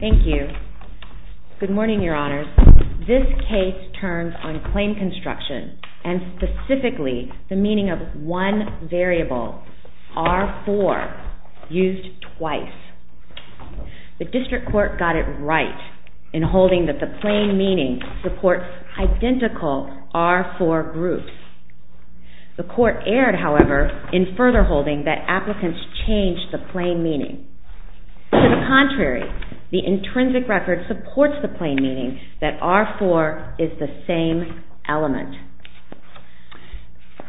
Thank you. Good morning, Your Honors. This case turns on claim construction, and specifically the meaning of one variable, R4, used twice. The District Court got it right in holding that the plain meaning supports identical R4 groups. The Court erred, however, in further holding that applicants changed the plain meaning. To the contrary, the intrinsic record supports the plain meaning that R4 is the same element.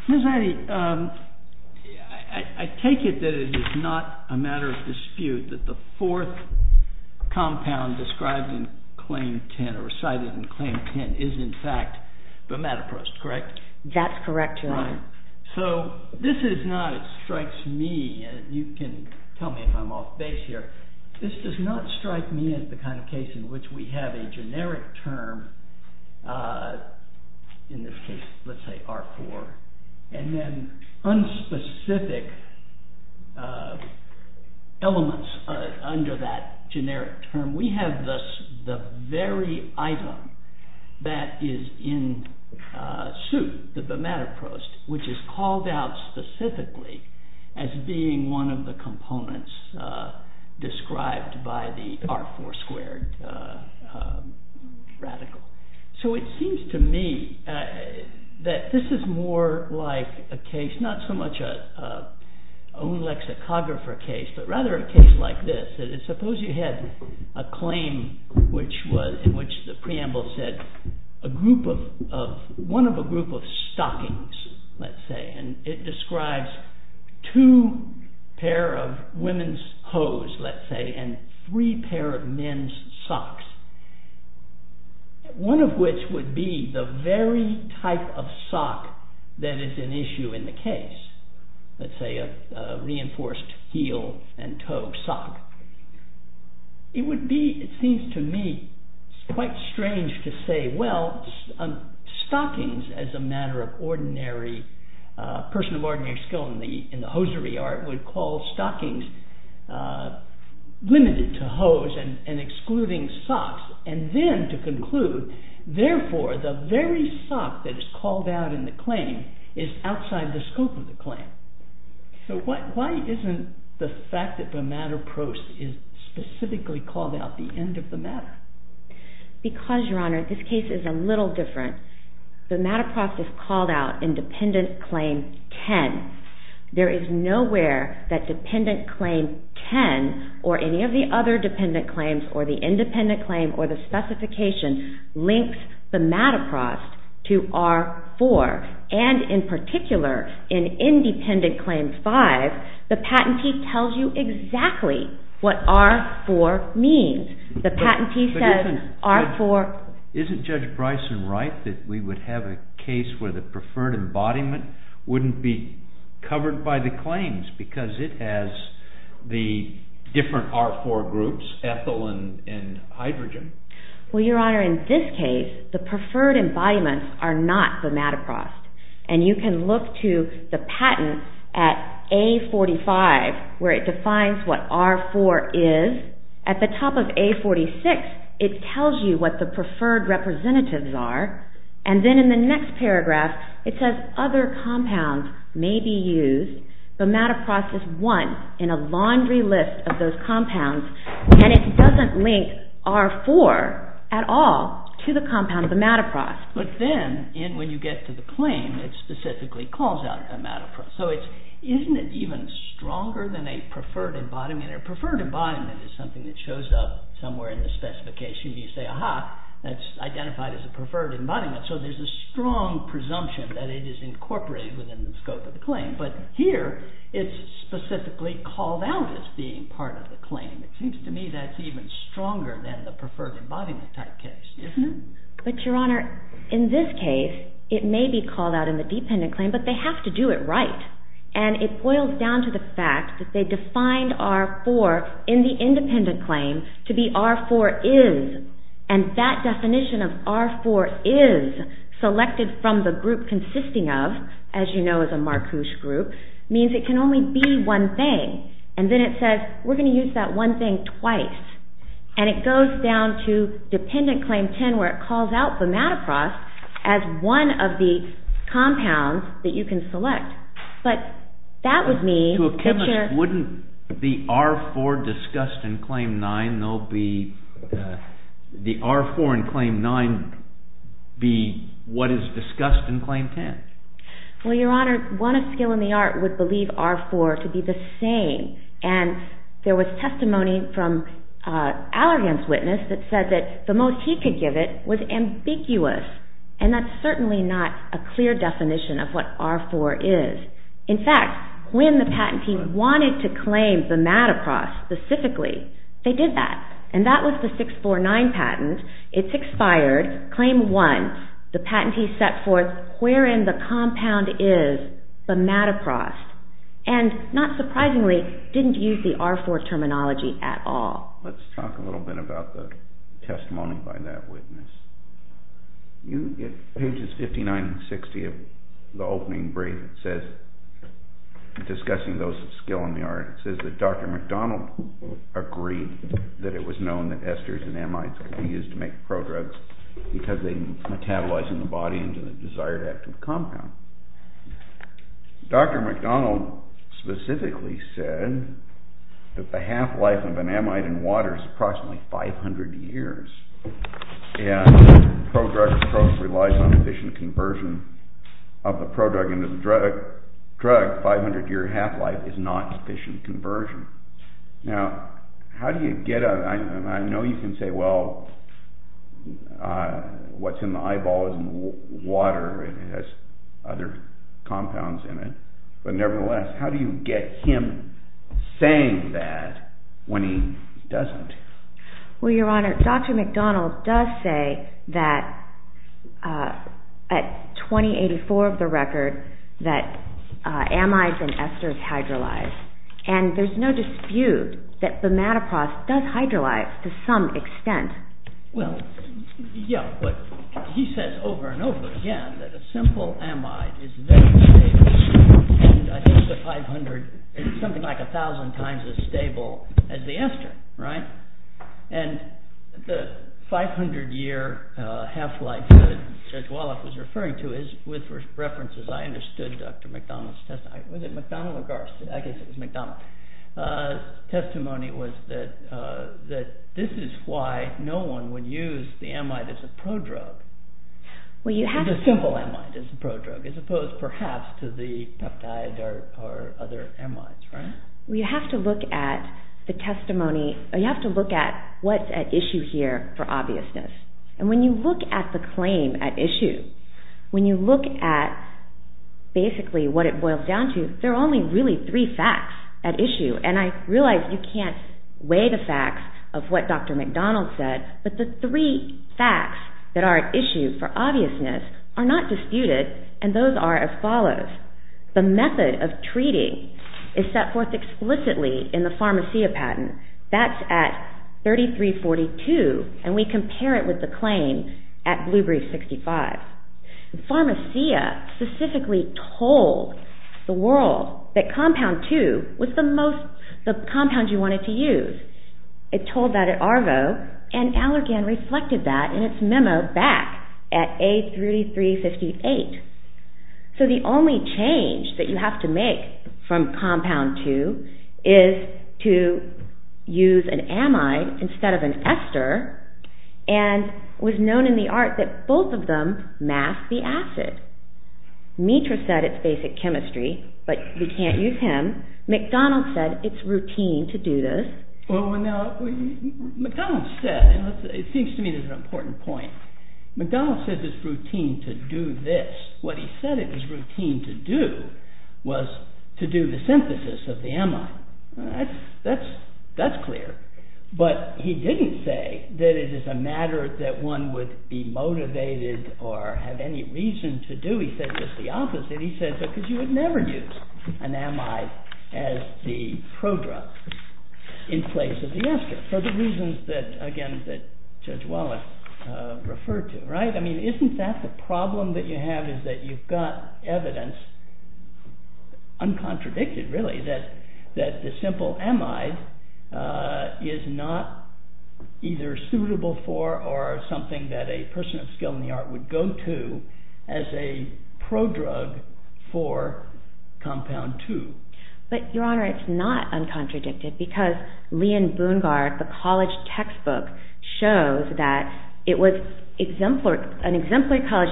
Mr. Addy, I take it that it is not a matter of dispute that the fourth compound described in Claim 10, or cited in Claim 10, is in fact the metaprost, correct? That's correct, Your Honor. So this is not, it strikes me, and you can tell me if I'm off base here, this does not strike me as the kind of case in which we have a generic term, in this case let's say R4, and then unspecific elements under that generic term. We have the very item that is in suit, the metaprost, which is called out specifically as being one of the components described by the R4 squared radical. So it seems to me that this is more like a case, not so much an own lexicographer case, but rather a case like this. Suppose you had a claim in which the preamble said one of a group of stockings, let's say, and it describes two pair of women's hose, let's say, and three pair of men's socks. One of which would be the very type of sock that is an issue in the case, let's say a reinforced heel and toe sock. It would be, it seems to me, quite strange to say, well, stockings as a matter of ordinary, a person of ordinary skill in the hosiery art would call stockings limited to hose and excluding socks. And then to conclude, therefore, the very sock that is called out in the claim is outside the scope of the claim. So why isn't the fact that the metaprost is specifically called out the end of the matter? Because, Your Honor, this case is a little different. The metaprost is called out in Dependent Claim 10. There is nowhere that Dependent Claim 10 or any of the other Dependent Claims or the Independent Claim or the specification links the metaprost to R4. And in particular, in Independent Claim 5, the patentee tells you exactly what R4 means. Isn't Judge Bryson right that we would have a case where the preferred embodiment wouldn't be covered by the claims because it has the different R4 groups, ethyl and hydrogen? Well, Your Honor, in this case, the preferred embodiments are not the metaprost. And you can look to the patent at A45 where it defines what R4 is. At the top of A46, it tells you what the preferred representatives are. And then in the next paragraph, it says other compounds may be used. The metaprost is one in a laundry list of those compounds. And it doesn't link R4 at all to the compound metaprost. But then when you get to the claim, it specifically calls out a metaprost. So isn't it even stronger than a preferred embodiment? A preferred embodiment is something that shows up somewhere in the specification. You say, aha, that's identified as a preferred embodiment. So there's a strong presumption that it is incorporated within the scope of the claim. But here, it's specifically called out as being part of the claim. It seems to me that's even stronger than the preferred embodiment type case, isn't it? But, Your Honor, in this case, it may be called out in the dependent claim. But they have to do it right. And it boils down to the fact that they defined R4 in the independent claim to be R4 is. And that definition of R4 is selected from the group consisting of, as you know, is a marquoise group, means it can only be one thing. And then it says, we're going to use that one thing twice. And it goes down to dependent claim 10, where it calls out the metaprost as one of the compounds that you can select. But that would mean that you're— To a chemist, wouldn't the R4 discussed in claim 9, they'll be—the R4 in claim 9 be what is discussed in claim 10? Well, Your Honor, one of skill in the art would believe R4 to be the same. And there was testimony from Allergan's witness that said that the most he could give it was ambiguous. And that's certainly not a clear definition of what R4 is. In fact, when the patentee wanted to claim the metaprost specifically, they did that. And that was the 649 patent. It's expired. Claim 1, the patentee set forth wherein the compound is, the metaprost. And, not surprisingly, didn't use the R4 terminology at all. Let's talk a little bit about the testimony by that witness. You get pages 59 and 60 of the opening brief that says, discussing those of skill in the art, it says that Dr. McDonald agreed that it was known that esters and amides could be used to make prodrugs because they metabolize in the body into the desired active compound. Dr. McDonald specifically said that the half-life of an amide in water is approximately 500 years. And the prodrug approach relies on efficient conversion of the prodrug into the drug. 500-year half-life is not efficient conversion. Now, how do you get a, I know you can say, well, what's in the eyeball isn't water. It has other compounds in it. But, nevertheless, how do you get him saying that when he doesn't? Well, Your Honor, Dr. McDonald does say that, at 2084 of the record, that amides and esters hydrolyze. And there's no dispute that the metaprost does hydrolyze to some extent. Well, yeah, but he says over and over again that a simple amide is very stable. And I think the 500 is something like 1,000 times as stable as the ester, right? And the 500-year half-life that Judge Walloff was referring to is, with references, I understood Dr. McDonald's testimony. Was it McDonald or Garst? I guess it was McDonald. But Dr. Walloff's testimony was that this is why no one would use the amide as a prodrug, the simple amide as a prodrug, as opposed, perhaps, to the peptides or other amides, right? Well, you have to look at the testimony, you have to look at what's at issue here for obviousness. And when you look at the claim at issue, when you look at, basically, what it boils down to, there are only really three facts at issue. And I realize you can't weigh the facts of what Dr. McDonald said, but the three facts that are at issue for obviousness are not disputed, and those are as follows. The method of treating is set forth explicitly in the Pharmacia patent. That's at 3342, and we compare it with the claim at Blue Brief 65. Pharmacia specifically told the world that compound 2 was the compound you wanted to use. It told that at Arvo, and Allergan reflected that in its memo back at A3358. So the only change that you have to make from compound 2 is to use an amide instead of an ester, and it was known in the art that both of them mask the acid. Mitra said it's basic chemistry, but we can't use him. McDonald said it's routine to do this. Well, now, McDonald said, and it seems to me there's an important point. McDonald said it's routine to do this. What he said it was routine to do was to do the synthesis of the amide. That's clear. But he didn't say that it is a matter that one would be motivated or have any reason to do. He said just the opposite. He said because you would never use an amide as the prodrug in place of the ester for the reasons, again, that Judge Wallace referred to. Isn't that the problem that you have is that you've got evidence, uncontradicted really, that the simple amide is not either suitable for or something that a person of skill in the art would go to as a prodrug for compound 2? But, Your Honor, it's not uncontradicted because Leon Bungard, an exemplary college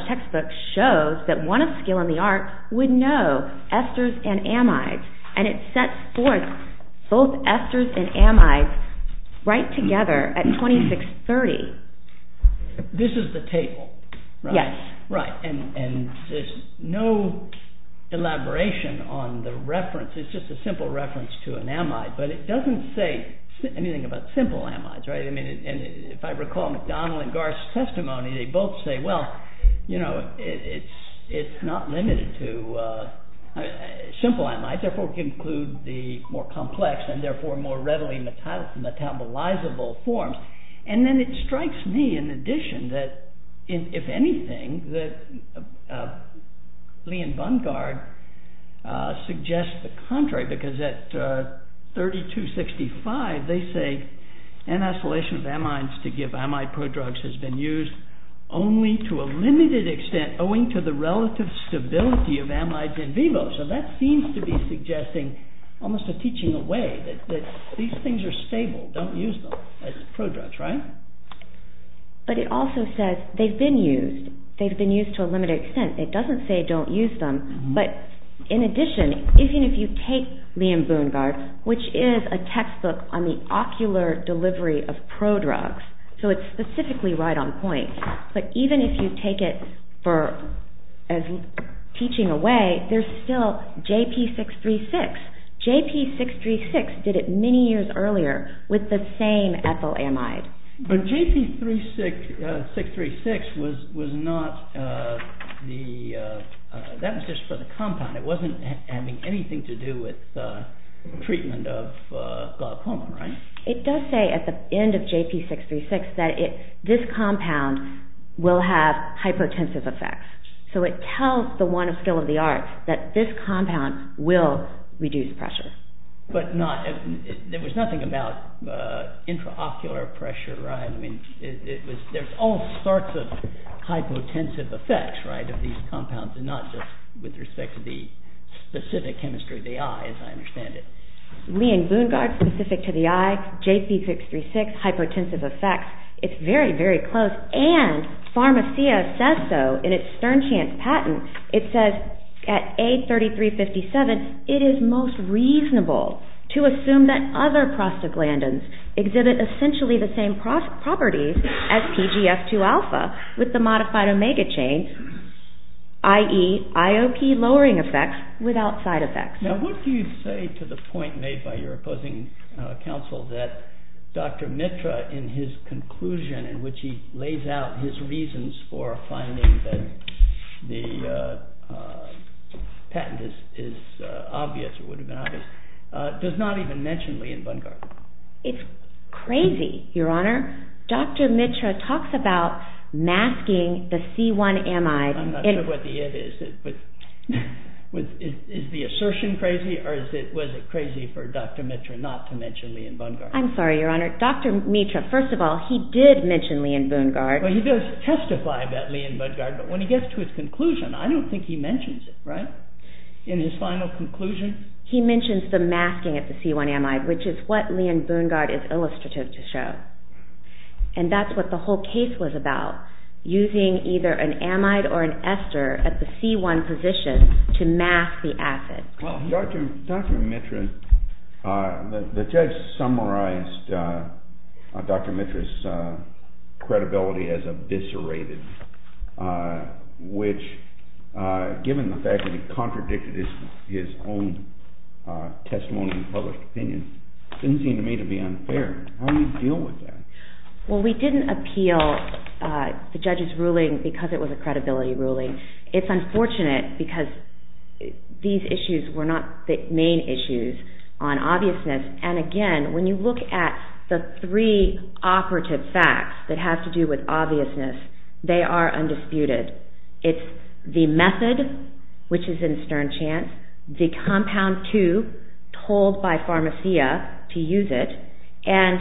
textbook, shows that one of skill in the art would know esters and amides, and it sets forth both esters and amides right together at 2630. This is the table, right? Yes. Right, and there's no elaboration on the reference. It's just a simple reference to an amide, but it doesn't say anything about simple amides, right? I mean, if I recall McDonald and Garth's testimony, they both say, well, you know, it's not limited to simple amides. Therefore, we can include the more complex and, therefore, more readily metabolizable forms. And then it strikes me, in addition, that if anything, that Leon Bungard suggests the contrary because at 3265, they say, an oscillation of amines to give amide prodrugs has been used only to a limited extent owing to the relative stability of amides in vivo. So that seems to be suggesting almost a teaching away, that these things are stable. Don't use them as prodrugs, right? But it also says they've been used. They've been used to a limited extent. It doesn't say don't use them, but in addition, even if you take Leon Bungard, which is a textbook on the ocular delivery of prodrugs, so it's specifically right on point, but even if you take it for teaching away, there's still JP636. JP636 did it many years earlier with the same ethyl amide. But JP636 was not the, that was just for the compound. It wasn't having anything to do with treatment of glaucoma, right? It does say at the end of JP636 that this compound will have hypotensive effects. So it tells the one of skill of the arts that this compound will reduce pressure. But not, there was nothing about intraocular pressure, right? I mean, it was, there's all sorts of hypotensive effects, right, of these compounds and not just with respect to the specific chemistry of the eye, as I understand it. Leon Bungard, specific to the eye, JP636, hypotensive effects. It's very, very close. And Pharmacia says so in its Stern Chance patent. It says at A3357, it is most reasonable to assume that other prostaglandins exhibit essentially the same properties as PGF2-alpha with the modified omega chain, i.e. IOP lowering effects without side effects. Now what do you say to the point made by your opposing counsel that Dr. Mitra, in his conclusion in which he lays out his reasons for finding that the patent is obvious, or would have been obvious, does not even mention Leon Bungard? It's crazy, Your Honor. Dr. Mitra talks about masking the C1MI. I'm not sure what the it is. Is the assertion crazy, or was it crazy for Dr. Mitra not to mention Leon Bungard? I'm sorry, Your Honor. Dr. Mitra, first of all, he did mention Leon Bungard. Well, he does testify about Leon Bungard, but when he gets to his conclusion, I don't think he mentions it, right, in his final conclusion? He mentions the masking of the C1MI, which is what Leon Bungard is illustrative to show. And that's what the whole case was about, using either an amide or an ester at the C1 position to mask the acid. Well, Dr. Mitra, the judge summarized Dr. Mitra's credibility as eviscerated, which, given the fact that he contradicted his own testimony and published opinion, didn't seem to me to be unfair. How do you deal with that? Well, we didn't appeal the judge's ruling because it was a credibility ruling. It's unfortunate because these issues were not the main issues on obviousness, and again, when you look at the three operative facts that have to do with obviousness, they are undisputed. It's the method, which is in stern chance, the compound two, told by Pharmacia to use it, and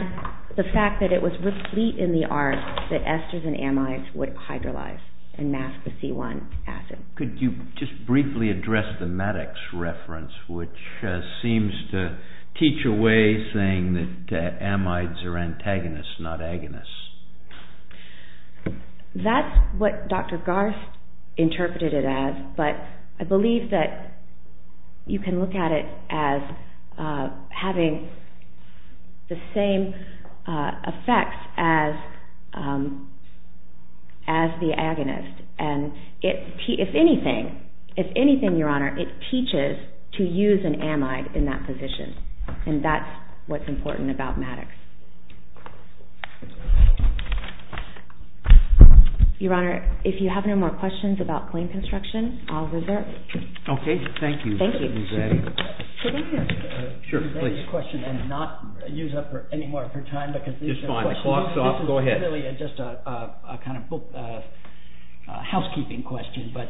the fact that it was replete in the art that esters and amides would hydrolyze and mask the C1 acid. Could you just briefly address the Maddox reference, which seems to teach away saying that amides are antagonists, not agonists? That's what Dr. Garst interpreted it as, but I believe that you can look at it as having the same effects as the agonist, and if anything, Your Honor, it teaches to use an amide in that position, and that's what's important about Maddox. Your Honor, if you have no more questions about claim construction, I'll reserve. Okay, thank you. Thank you. Could I ask a question and not use up any more of your time? Just fine, the clock's off, go ahead. This is really just a kind of housekeeping question, but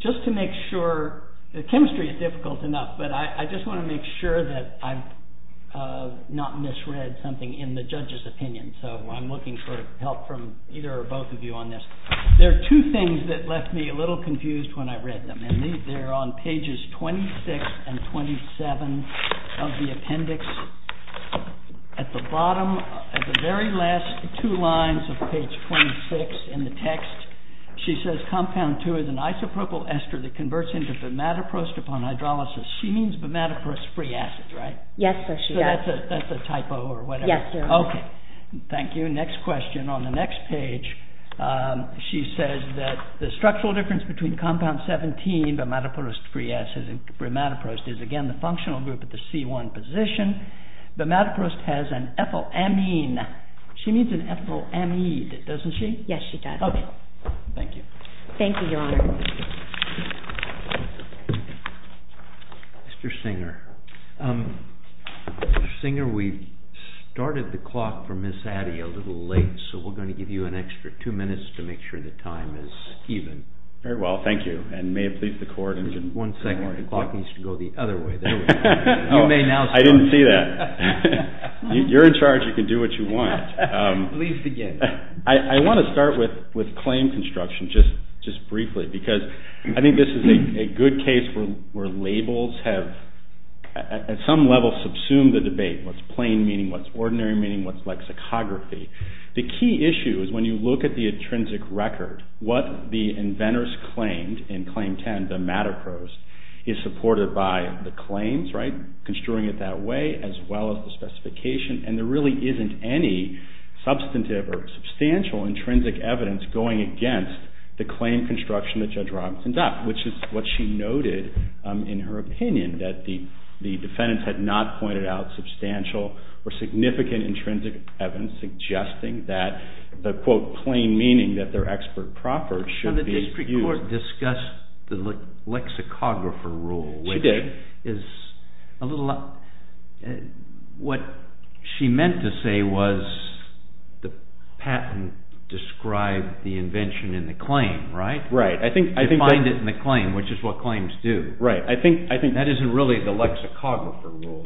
just to make sure, the chemistry is difficult enough, but I just want to make sure that I've not misread something in the judge's opinion, so I'm looking for help from either or both of you on this. There are two things that left me a little confused when I read them, and they're on pages 26 and 27 of the appendix. At the bottom, at the very last two lines of page 26 in the text, she says, compound 2 is an isopropyl ester that converts into bimatoproste upon hydrolysis. She means bimatoproste-free acid, right? Yes, sir, she does. So that's a typo or whatever? Yes, sir. Okay, thank you. Moving on to the next question, on the next page, she says that the structural difference between compound 17, bimatoproste-free acid, and bimatoproste is, again, the functional group at the C1 position. Bimatoproste has an ethyl amine. She means an ethyl amide, doesn't she? Yes, she does. Okay, thank you. Thank you, Your Honor. Mr. Singer, we started the clock for Ms. Addy a little late, so we're going to give you an extra two minutes to make sure the time is even. Very well, thank you. And may it please the Court. One second. The clock needs to go the other way. There we go. You may now start. I didn't see that. You're in charge. You can do what you want. Please begin. I want to start with claim construction, just briefly, because I think this is a good case where labels have, at some level, subsumed the debate. What's plain meaning? What's ordinary meaning? What's lexicography? The key issue is when you look at the intrinsic record, what the inventors claimed in Claim 10, Bimatoproste, is supported by the claims, right, construing it that way, as well as the specification. And there really isn't any substantive or substantial intrinsic evidence going against the claim construction that Judge Robinson got, which is what she noted in her opinion, that the defendants had not pointed out substantial or significant intrinsic evidence suggesting that the, quote, plain meaning that their expert proffered should be used. The district court discussed the lexicographer rule. She did. What she meant to say was the patent described the invention in the claim, right? Right. Defined it in the claim, which is what claims do. Right. That isn't really the lexicographer rule.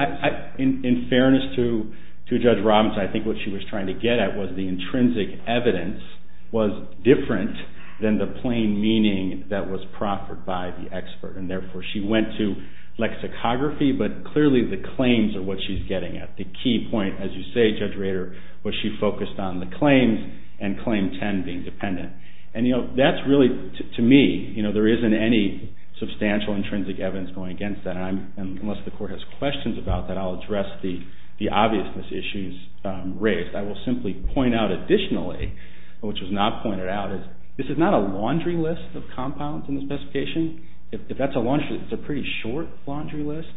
In fairness to Judge Robinson, I think what she was trying to get at was the intrinsic evidence was different than the plain meaning that was proffered by the expert. And, therefore, she went to lexicography, but clearly the claims are what she's getting at. The key point, as you say, Judge Rader, was she focused on the claims and Claim 10 being dependent. And, you know, that's really, to me, you know, there isn't any substantial intrinsic evidence going against that. Unless the court has questions about that, I'll address the obviousness issues raised. I will simply point out additionally, which was not pointed out, is this is not a laundry list of compounds in the specification. If that's a laundry list, it's a pretty short laundry list.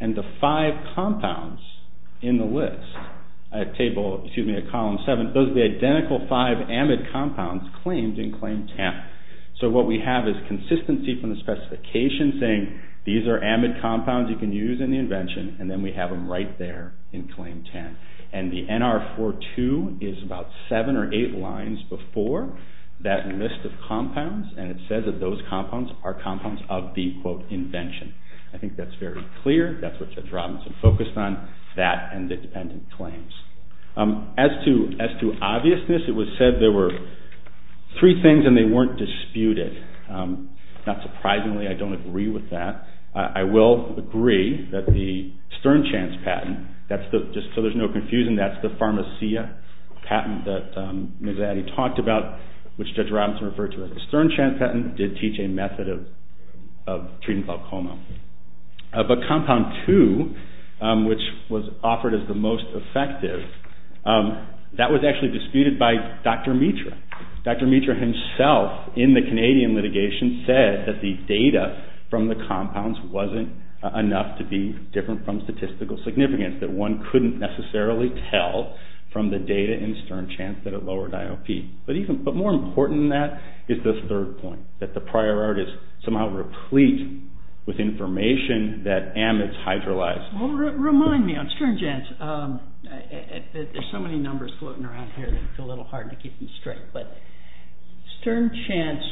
And the five compounds in the list at table, excuse me, at column seven, those are the identical five amide compounds claimed in Claim 10. So what we have is consistency from the specification saying these are amide compounds you can use in the invention, and then we have them right there in Claim 10. And the NR42 is about seven or eight lines before that list of compounds, and it says that those compounds are compounds of the, quote, invention. I think that's very clear. That's what Judge Robinson focused on, that and the dependent claims. As to obviousness, it was said there were three things and they weren't disputed. Not surprisingly, I don't agree with that. I will agree that the Stern Chance patent, just so there's no confusion, that's the Pharmacia patent that Ms. Addy talked about, which Judge Robinson referred to as the Stern Chance patent, did teach a method of treating glaucoma. But compound two, which was offered as the most effective, that was actually disputed by Dr. Mitra. Dr. Mitra himself, in the Canadian litigation, said that the data from the compounds wasn't enough to be different from statistical significance, that one couldn't necessarily tell from the data in Stern Chance that it lowered IOP. But more important than that is this third point, that the prior art is somehow replete with information that amides hydrolyze. Well, remind me, on Stern Chance, there's so many numbers floating around here that it's a little hard to keep them straight, but Stern Chance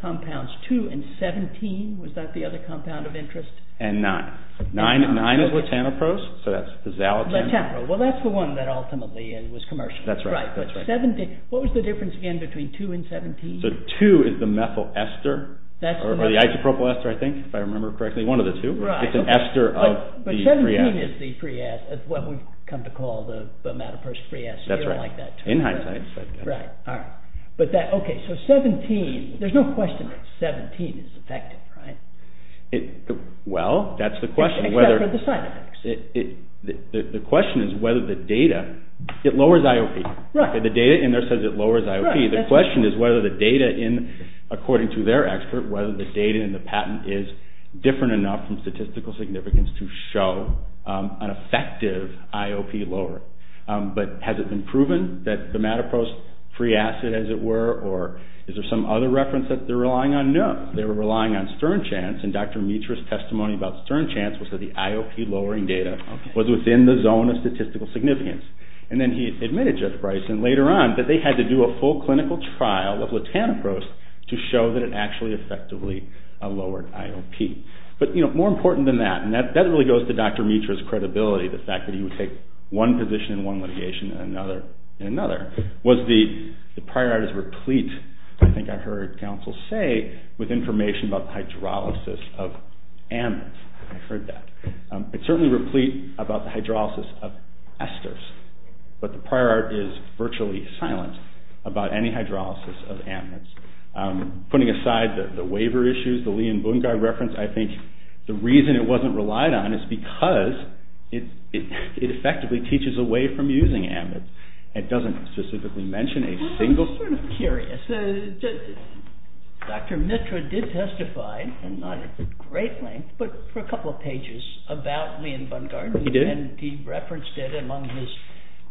compounds two and 17, was that the other compound of interest? And nine. Nine is latanopros, so that's the xalatam. Latanpro. Well, that's the one that ultimately was commercial. That's right. But 17, what was the difference again between two and 17? So two is the methyl ester, or the isopropyl ester, I think, if I remember correctly, one of the two. Right. It's an ester of the free acid. But 17 is the free acid, what we've come to call the metapros free acid. That's right. You don't like that term. In hindsight. Right. All right. But that, okay, so 17, there's no question that 17 is effective, right? Well, that's the question. Except for the side effects. The question is whether the data, it lowers IOP. Right. The data in there says it lowers IOP. Right. The question is whether the data in, according to their expert, whether the data in the patent is different enough from statistical significance to show an effective IOP lower. But has it been proven that the metapros free acid, as it were, or is there some other reference that they're relying on? No. They were relying on Stern Chance, and Dr. Mietra's testimony about Stern Chance was that the IOP lowering data was within the zone of statistical significance. And then he admitted, Judge Bryson, later on, that they had to do a full clinical trial of latanoprost to show that it actually effectively lowered IOP. But, you know, more important than that, and that really goes to Dr. Mietra's credibility, the fact that he would take one position in one litigation and another in another, was the prior art is replete, I think I heard counsel say, with information about the hydrolysis of amides. I heard that. It's certainly replete about the hydrolysis of esters. But the prior art is virtually silent about any hydrolysis of amides. Putting aside the waiver issues, the Lee and Bungai reference, I think the reason it wasn't relied on is because it effectively teaches away from using amides. It doesn't specifically mention a single thing. I'm sort of curious. Dr. Mietra did testify, and not at great length, but for a couple of pages about Lee and Bungai. He did. And he referenced it among his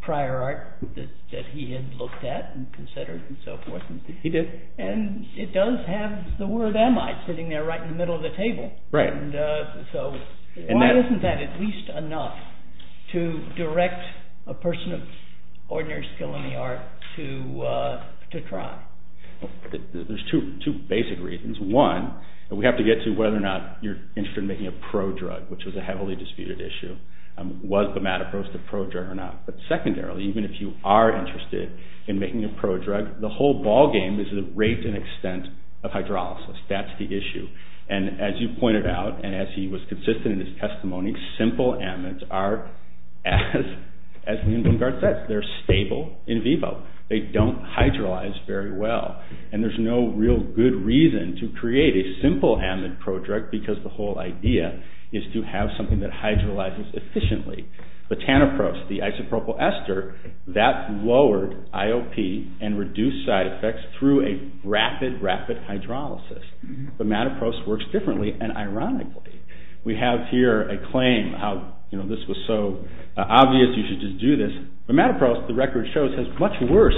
prior art that he had looked at and considered and so forth. He did. And it does have the word amide sitting there right in the middle of the table. Right. And so why isn't that at least enough to direct a person of ordinary skill in the art to try? There's two basic reasons. One, we have to get to whether or not you're interested in making a prodrug, which was a heavily disputed issue. Was bimatoproste a prodrug or not? But secondarily, even if you are interested in making a prodrug, the whole ballgame is the rate and extent of hydrolysis. That's the issue. And as you pointed out, and as he was consistent in his testimony, simple amides are, as Lee and Bungai said, they're stable in vivo. They don't hydrolyze very well. And there's no real good reason to create a simple amide prodrug because the whole idea is to have something that hydrolyzes efficiently. Bimatoproste, the isopropyl ester, that lowered IOP and reduced side effects through a rapid, rapid hydrolysis. Bimatoproste works differently. And ironically, we have here a claim how this was so obvious you should just do this. Bimatoproste, the record shows, has much worse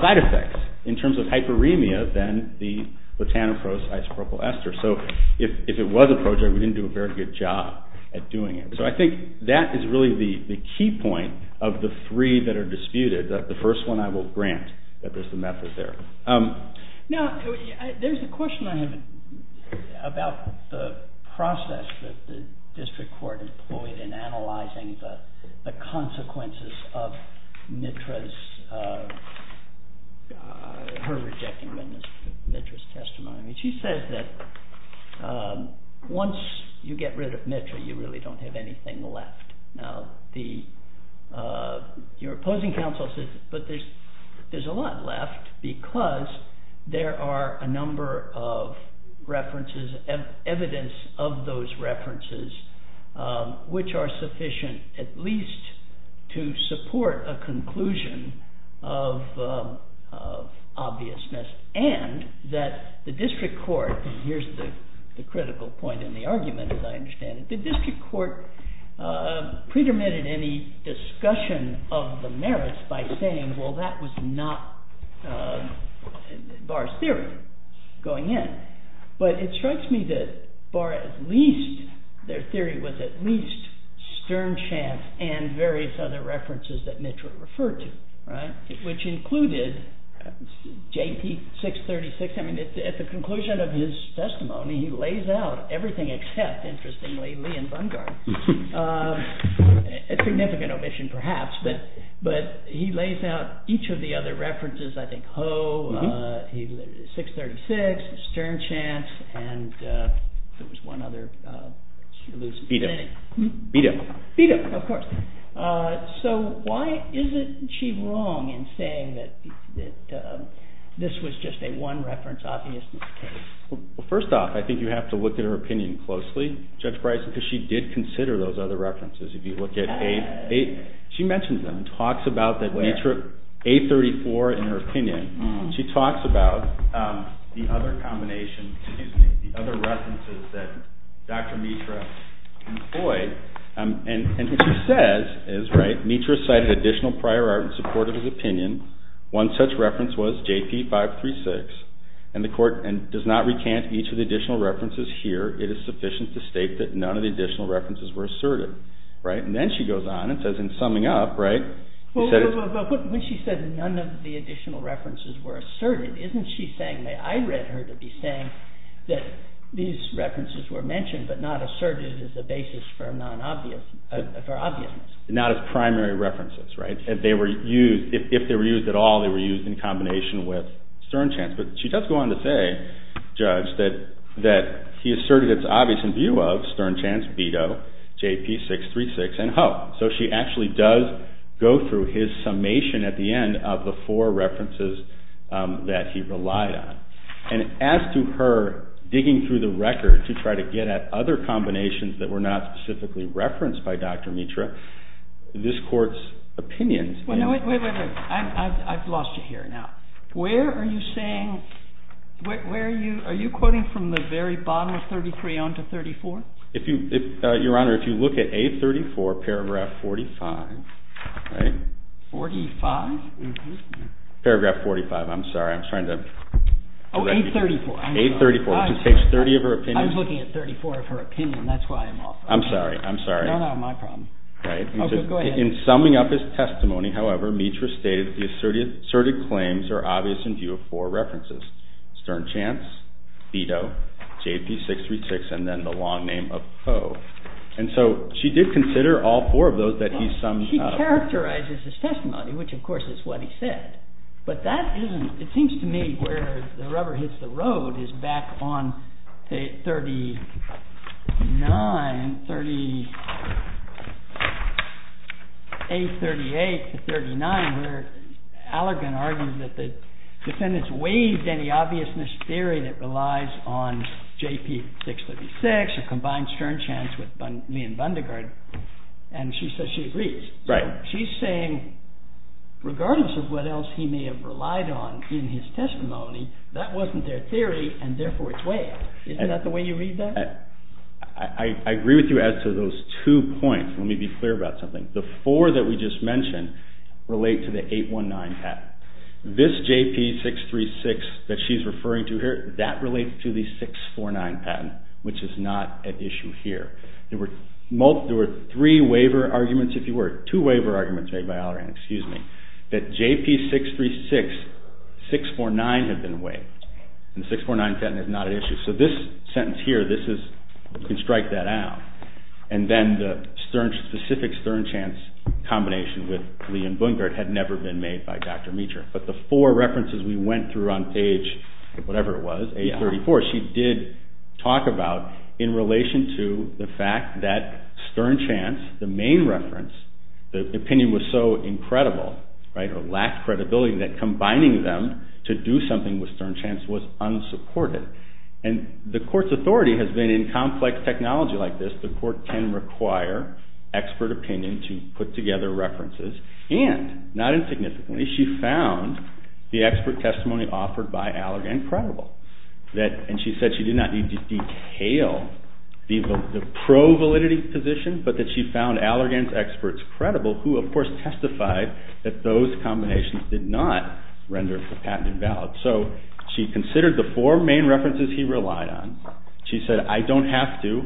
side effects in terms of hyperemia than the latanoproste isopropyl ester. So if it was a prodrug, we didn't do a very good job at doing it. So I think that is really the key point of the three that are disputed. The first one I will grant that there's a method there. Now, there's a question I have about the process that the district court employed in analyzing the consequences of Mitra's, her rejecting Mitra's testimony. She says that once you get rid of Mitra, you really don't have anything left. Now, the opposing counsel says, but there's a lot left because there are a number of references, evidence of those references, which are sufficient at least to support a conclusion of obviousness. And that the district court, and here's the critical point in the argument, as I understand it, the district court predetermined any discussion of the merits by saying, well, that was not Barr's theory going in. But it strikes me that Barr at least, their theory was at least Stern-Champ and various other references that Mitra referred to, right? Which included JT 636. I mean, at the conclusion of his testimony, he lays out everything except, interestingly, Lee and Bungard. A significant omission perhaps, but he lays out each of the other references. I think Ho, 636, Stern-Champ, and there was one other. Bito. Bito, of course. So why is it she's wrong in saying that this was just a one reference obviousness case? Well, first off, I think you have to look at her opinion closely, Judge Bryce, because she did consider those other references. She mentioned them, talks about that Mitra, A34 in her opinion. She talks about the other combination, the other references that Dr. Mitra employed. And what she says is, right, Mitra cited additional prior art in support of his opinion. One such reference was JP 536. And the court does not recant each of the additional references here. It is sufficient to state that none of the additional references were asserted. Right? And then she goes on and says, in summing up, right? But when she said none of the additional references were asserted, isn't she saying that I read her to be saying that these references were mentioned, but not asserted as a basis for obviousness? Not as primary references, right? If they were used at all, they were used in combination with Stern Chance. But she does go on to say, Judge, that he asserted its obvious in view of Stern Chance, Bito, JP 636, and Hope. So she actually does go through his summation at the end of the four references that he relied on. And as to her digging through the record to try to get at other combinations that were not specifically referenced by Dr. Mitra, this court's opinion is Wait, wait, wait. I've lost you here now. Where are you saying, where are you, are you quoting from the very bottom of 33 on to 34? Your Honor, if you look at A34, paragraph 45, right? 45? Mm-hmm. Paragraph 45. Oh, A34. A34, which is page 30 of her opinion. I was looking at 34 of her opinion. That's why I'm off. I'm sorry, I'm sorry. No, no, my problem. Okay, go ahead. In summing up his testimony, however, Mitra stated the asserted claims are obvious in view of four references. Stern Chance, Bito, JP 636, and then the long name of Hope. And so she did consider all four of those that he summed up. But he characterizes his testimony, which, of course, is what he said. But that isn't, it seems to me where the rubber hits the road is back on 39, 38, 38 to 39, where Allergan argues that the defendants waived any obviousness theory that relies on JP 636, or combined Stern Chance with Lee and Bundegard, and she says she agrees. Right. She's saying regardless of what else he may have relied on in his testimony, that wasn't their theory, and therefore it's waived. Isn't that the way you read that? I agree with you as to those two points. Let me be clear about something. The four that we just mentioned relate to the 819 patent. This JP 636 that she's referring to here, that relates to the 649 patent, which is not at issue here. There were three waiver arguments, if you were, two waiver arguments made by Allergan, excuse me, that JP 636, 649 had been waived, and the 649 patent is not at issue. So this sentence here, this is, you can strike that out, and then the specific Stern Chance combination with Lee and Bundegard had never been made by Dr. Meacher. But the four references we went through on page, whatever it was, 834, she did talk about in relation to the fact that Stern Chance, the main reference, the opinion was so incredible, right, or lacked credibility that combining them to do something with Stern Chance was unsupported. And the court's authority has been in complex technology like this, the court can require expert opinion to put together references, and, not insignificantly, she found the expert testimony offered by Allergan credible. And she said she did not detail the pro-validity position, but that she found Allergan's experts credible, who of course testified that those combinations did not render the patent invalid. So she considered the four main references he relied on, she said I don't have to,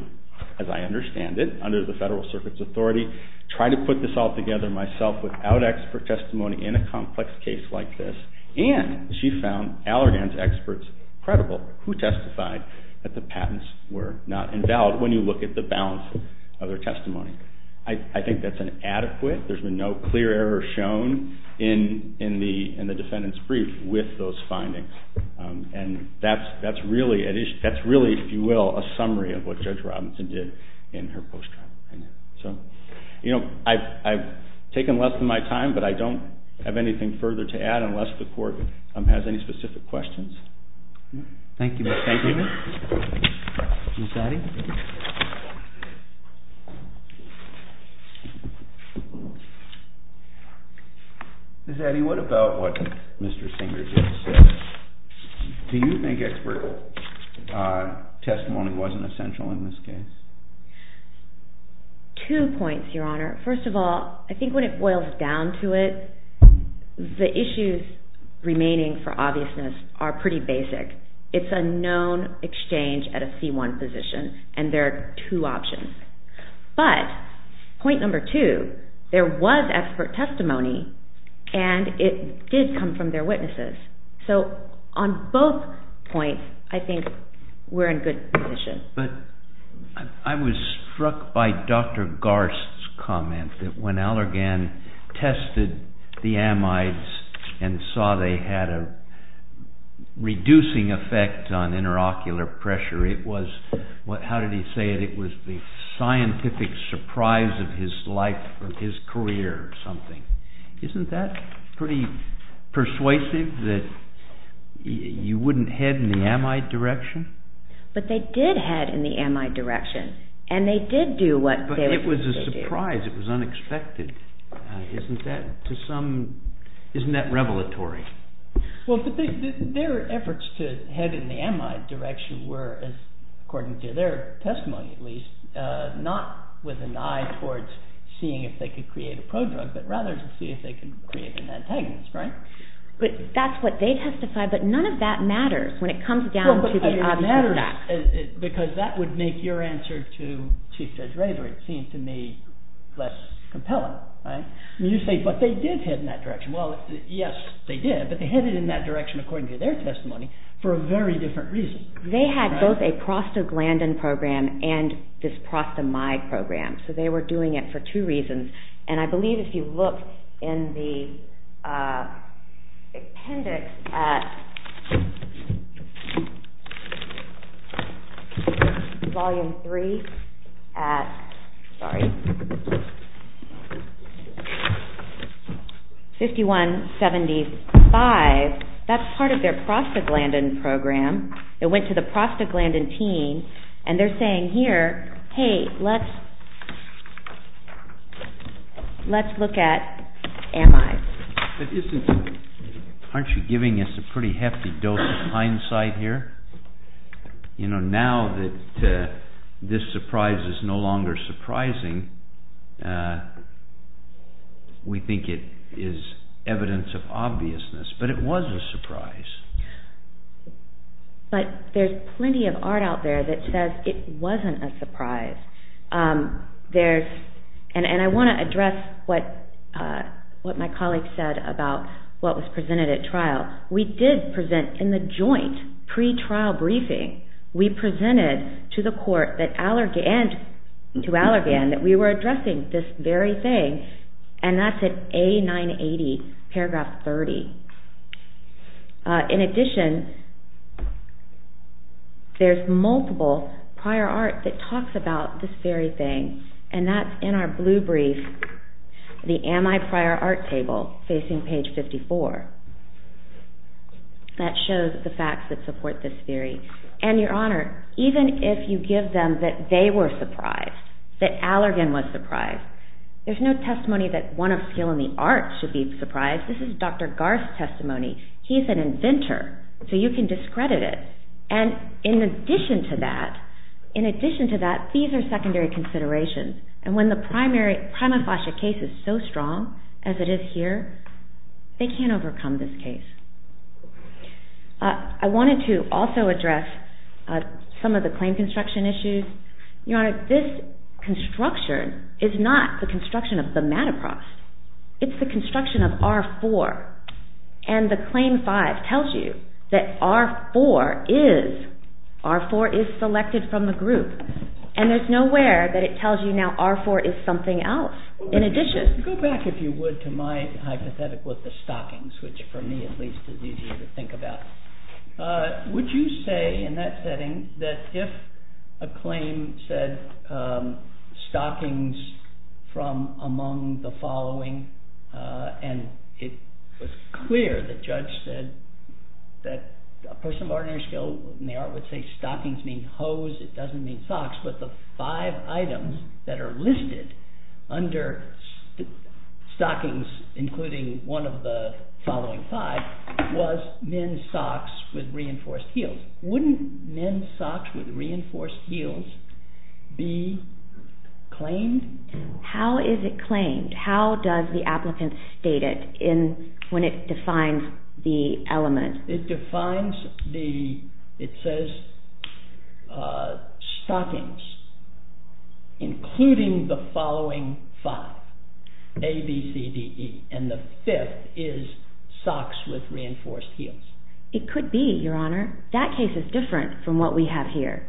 as I understand it, under the Federal Circuit's authority, try to put this all together myself without expert testimony in a complex case like this, and she found Allergan's experts credible, who testified that the patents were not invalid when you look at the balance of their testimony. I think that's an adequate, there's been no clear error shown in the defendant's brief with those findings, and that's really, if you will, a summary of what Judge Robinson did in her post-trial opinion. So, you know, I've taken less than my time, but I don't have anything further to add unless the court has any specific questions. Thank you. Thank you. Ms. Addy? Ms. Addy, what about what Mr. Singer just said? Do you think expert testimony wasn't essential in this case? Two points, Your Honor. First of all, I think when it boils down to it, the issues remaining for obviousness are pretty basic. It's a known exchange at a C1 position, and there are two options. But, point number two, there was expert testimony, and it did come from their witnesses. So on both points, I think we're in good position. But I was struck by Dr. Garst's comment that when Allergan tested the amides and saw they had a reducing effect on interocular pressure, it was, how did he say it? It was the scientific surprise of his life or his career or something. Isn't that pretty persuasive that you wouldn't head in the amide direction? But they did head in the amide direction, and they did do what they were supposed to do. But it was a surprise. It was unexpected. Isn't that revelatory? Well, their efforts to head in the amide direction were, according to their testimony at least, not with an eye towards seeing if they could create a prodrug, but rather to see if they could create an antagonist, right? But that's what they testified, but none of that matters when it comes down to the obvious effect. Because that would make your answer to Chief Judge Rayburn seem to me less compelling, right? You say, but they did head in that direction. Well, yes, they did, but they headed in that direction, according to their testimony, for a very different reason. They had both a prostaglandin program and this prostamide program, so they were doing it for two reasons. And I believe if you look in the appendix at Volume 3 at 5175, that's part of their prostaglandin program. It went to the prostaglandin team, and they're saying here, hey, let's look at amides. Aren't you giving us a pretty hefty dose of hindsight here? Now that this surprise is no longer surprising, we think it is evidence of obviousness, but it was a surprise. But there's plenty of art out there that says it wasn't a surprise. And I want to address what my colleague said about what was presented at trial. We did present in the joint pre-trial briefing, we presented to the court and to Allergan that we were addressing this very thing, and that's at A980, paragraph 30. In addition, there's multiple prior art that talks about this very thing, and that's in our blue brief, the amide prior art table, facing page 54. That shows the facts that support this theory. And, Your Honor, even if you give them that they were surprised, that Allergan was surprised, there's no testimony that one of skill in the art should be surprised. This is Dr. Garth's testimony. He's an inventor, so you can discredit it. And in addition to that, these are secondary considerations. And when the prima facie case is so strong, as it is here, they can't overcome this case. I wanted to also address some of the claim construction issues. Your Honor, this construction is not the construction of the mattress. It's the construction of R4, and the claim 5 tells you that R4 is selected from the group. And there's nowhere that it tells you now R4 is something else in addition. Go back, if you would, to my hypothetic with the stockings, which for me at least is easier to think about. Would you say in that setting that if a claim said stockings from among the following, and it was clear the judge said that a person of ordinary skill in the art would say stockings mean hoes, it doesn't mean socks, but the five items that are listed under stockings, including one of the following five, was men's socks with reinforced heels. Wouldn't men's socks with reinforced heels be claimed? How is it claimed? How does the applicant state it when it defines the element? It defines the, it says stockings, including the following five, A, B, C, D, E, and the fifth is socks with reinforced heels. It could be, Your Honor. That case is different from what we have here.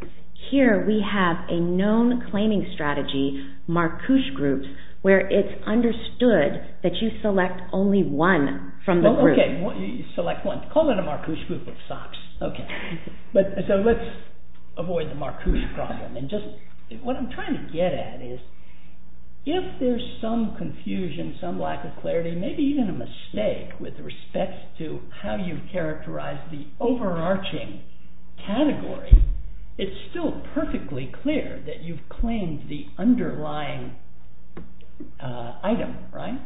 Here we have a known claiming strategy, Marcouche Groups, where it's understood that you select only one from the group. Okay. You select one. Call it a Marcouche Group of socks. Okay. So let's avoid the Marcouche problem. What I'm trying to get at is if there's some confusion, some lack of clarity, maybe even a mistake with respect to how you characterize the overarching category, it's still perfectly clear that you've claimed the underlying item, right?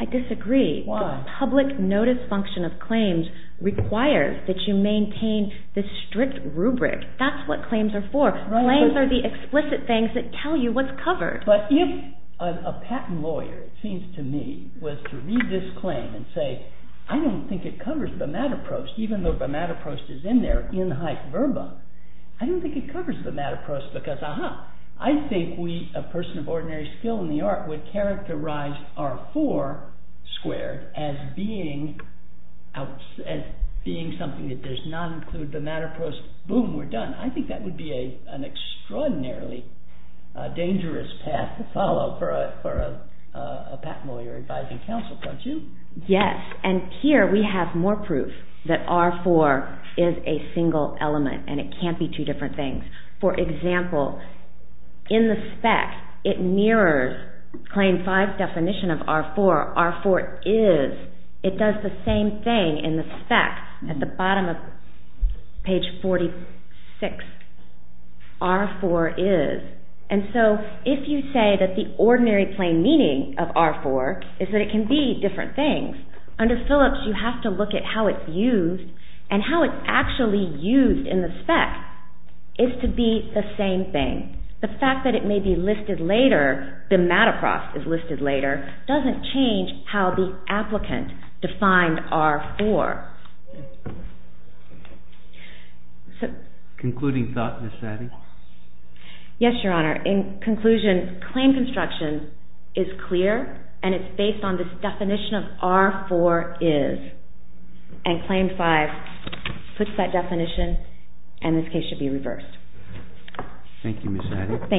I disagree. Why? The public notice function of claims requires that you maintain the strict rubric. That's what claims are for. Claims are the explicit things that tell you what's covered. But if a patent lawyer, it seems to me, was to read this claim and say, I don't think it covers the mataprost, even though the mataprost is in there, in hype verba, I don't think it covers the mataprost because, uh-huh, I think we, a person of ordinary skill in the art, would characterize R4 squared as being something that does not include the mataprost, boom, we're done. I think that would be an extraordinarily dangerous path to follow for a patent lawyer advising counsel, don't you? Yes. And here we have more proof that R4 is a single element and it can't be two different things. For example, in the spec, it mirrors claim five's definition of R4, R4 is. It does the same thing in the spec at the bottom of page 46, R4 is. And so if you say that the ordinary plain meaning of R4 is that it can be different things, under Phillips you have to look at how it's used and how it's actually used in the spec is to be the same thing. The fact that it may be listed later, the mataprost is listed later, doesn't change how the applicant defined R4. Concluding thought, Ms. Saddy? Yes, Your Honor. In conclusion, claim construction is clear and it's based on this definition of R4 is. And claim five puts that definition and this case should be reversed. Thank you, Ms. Saddy. Thank you.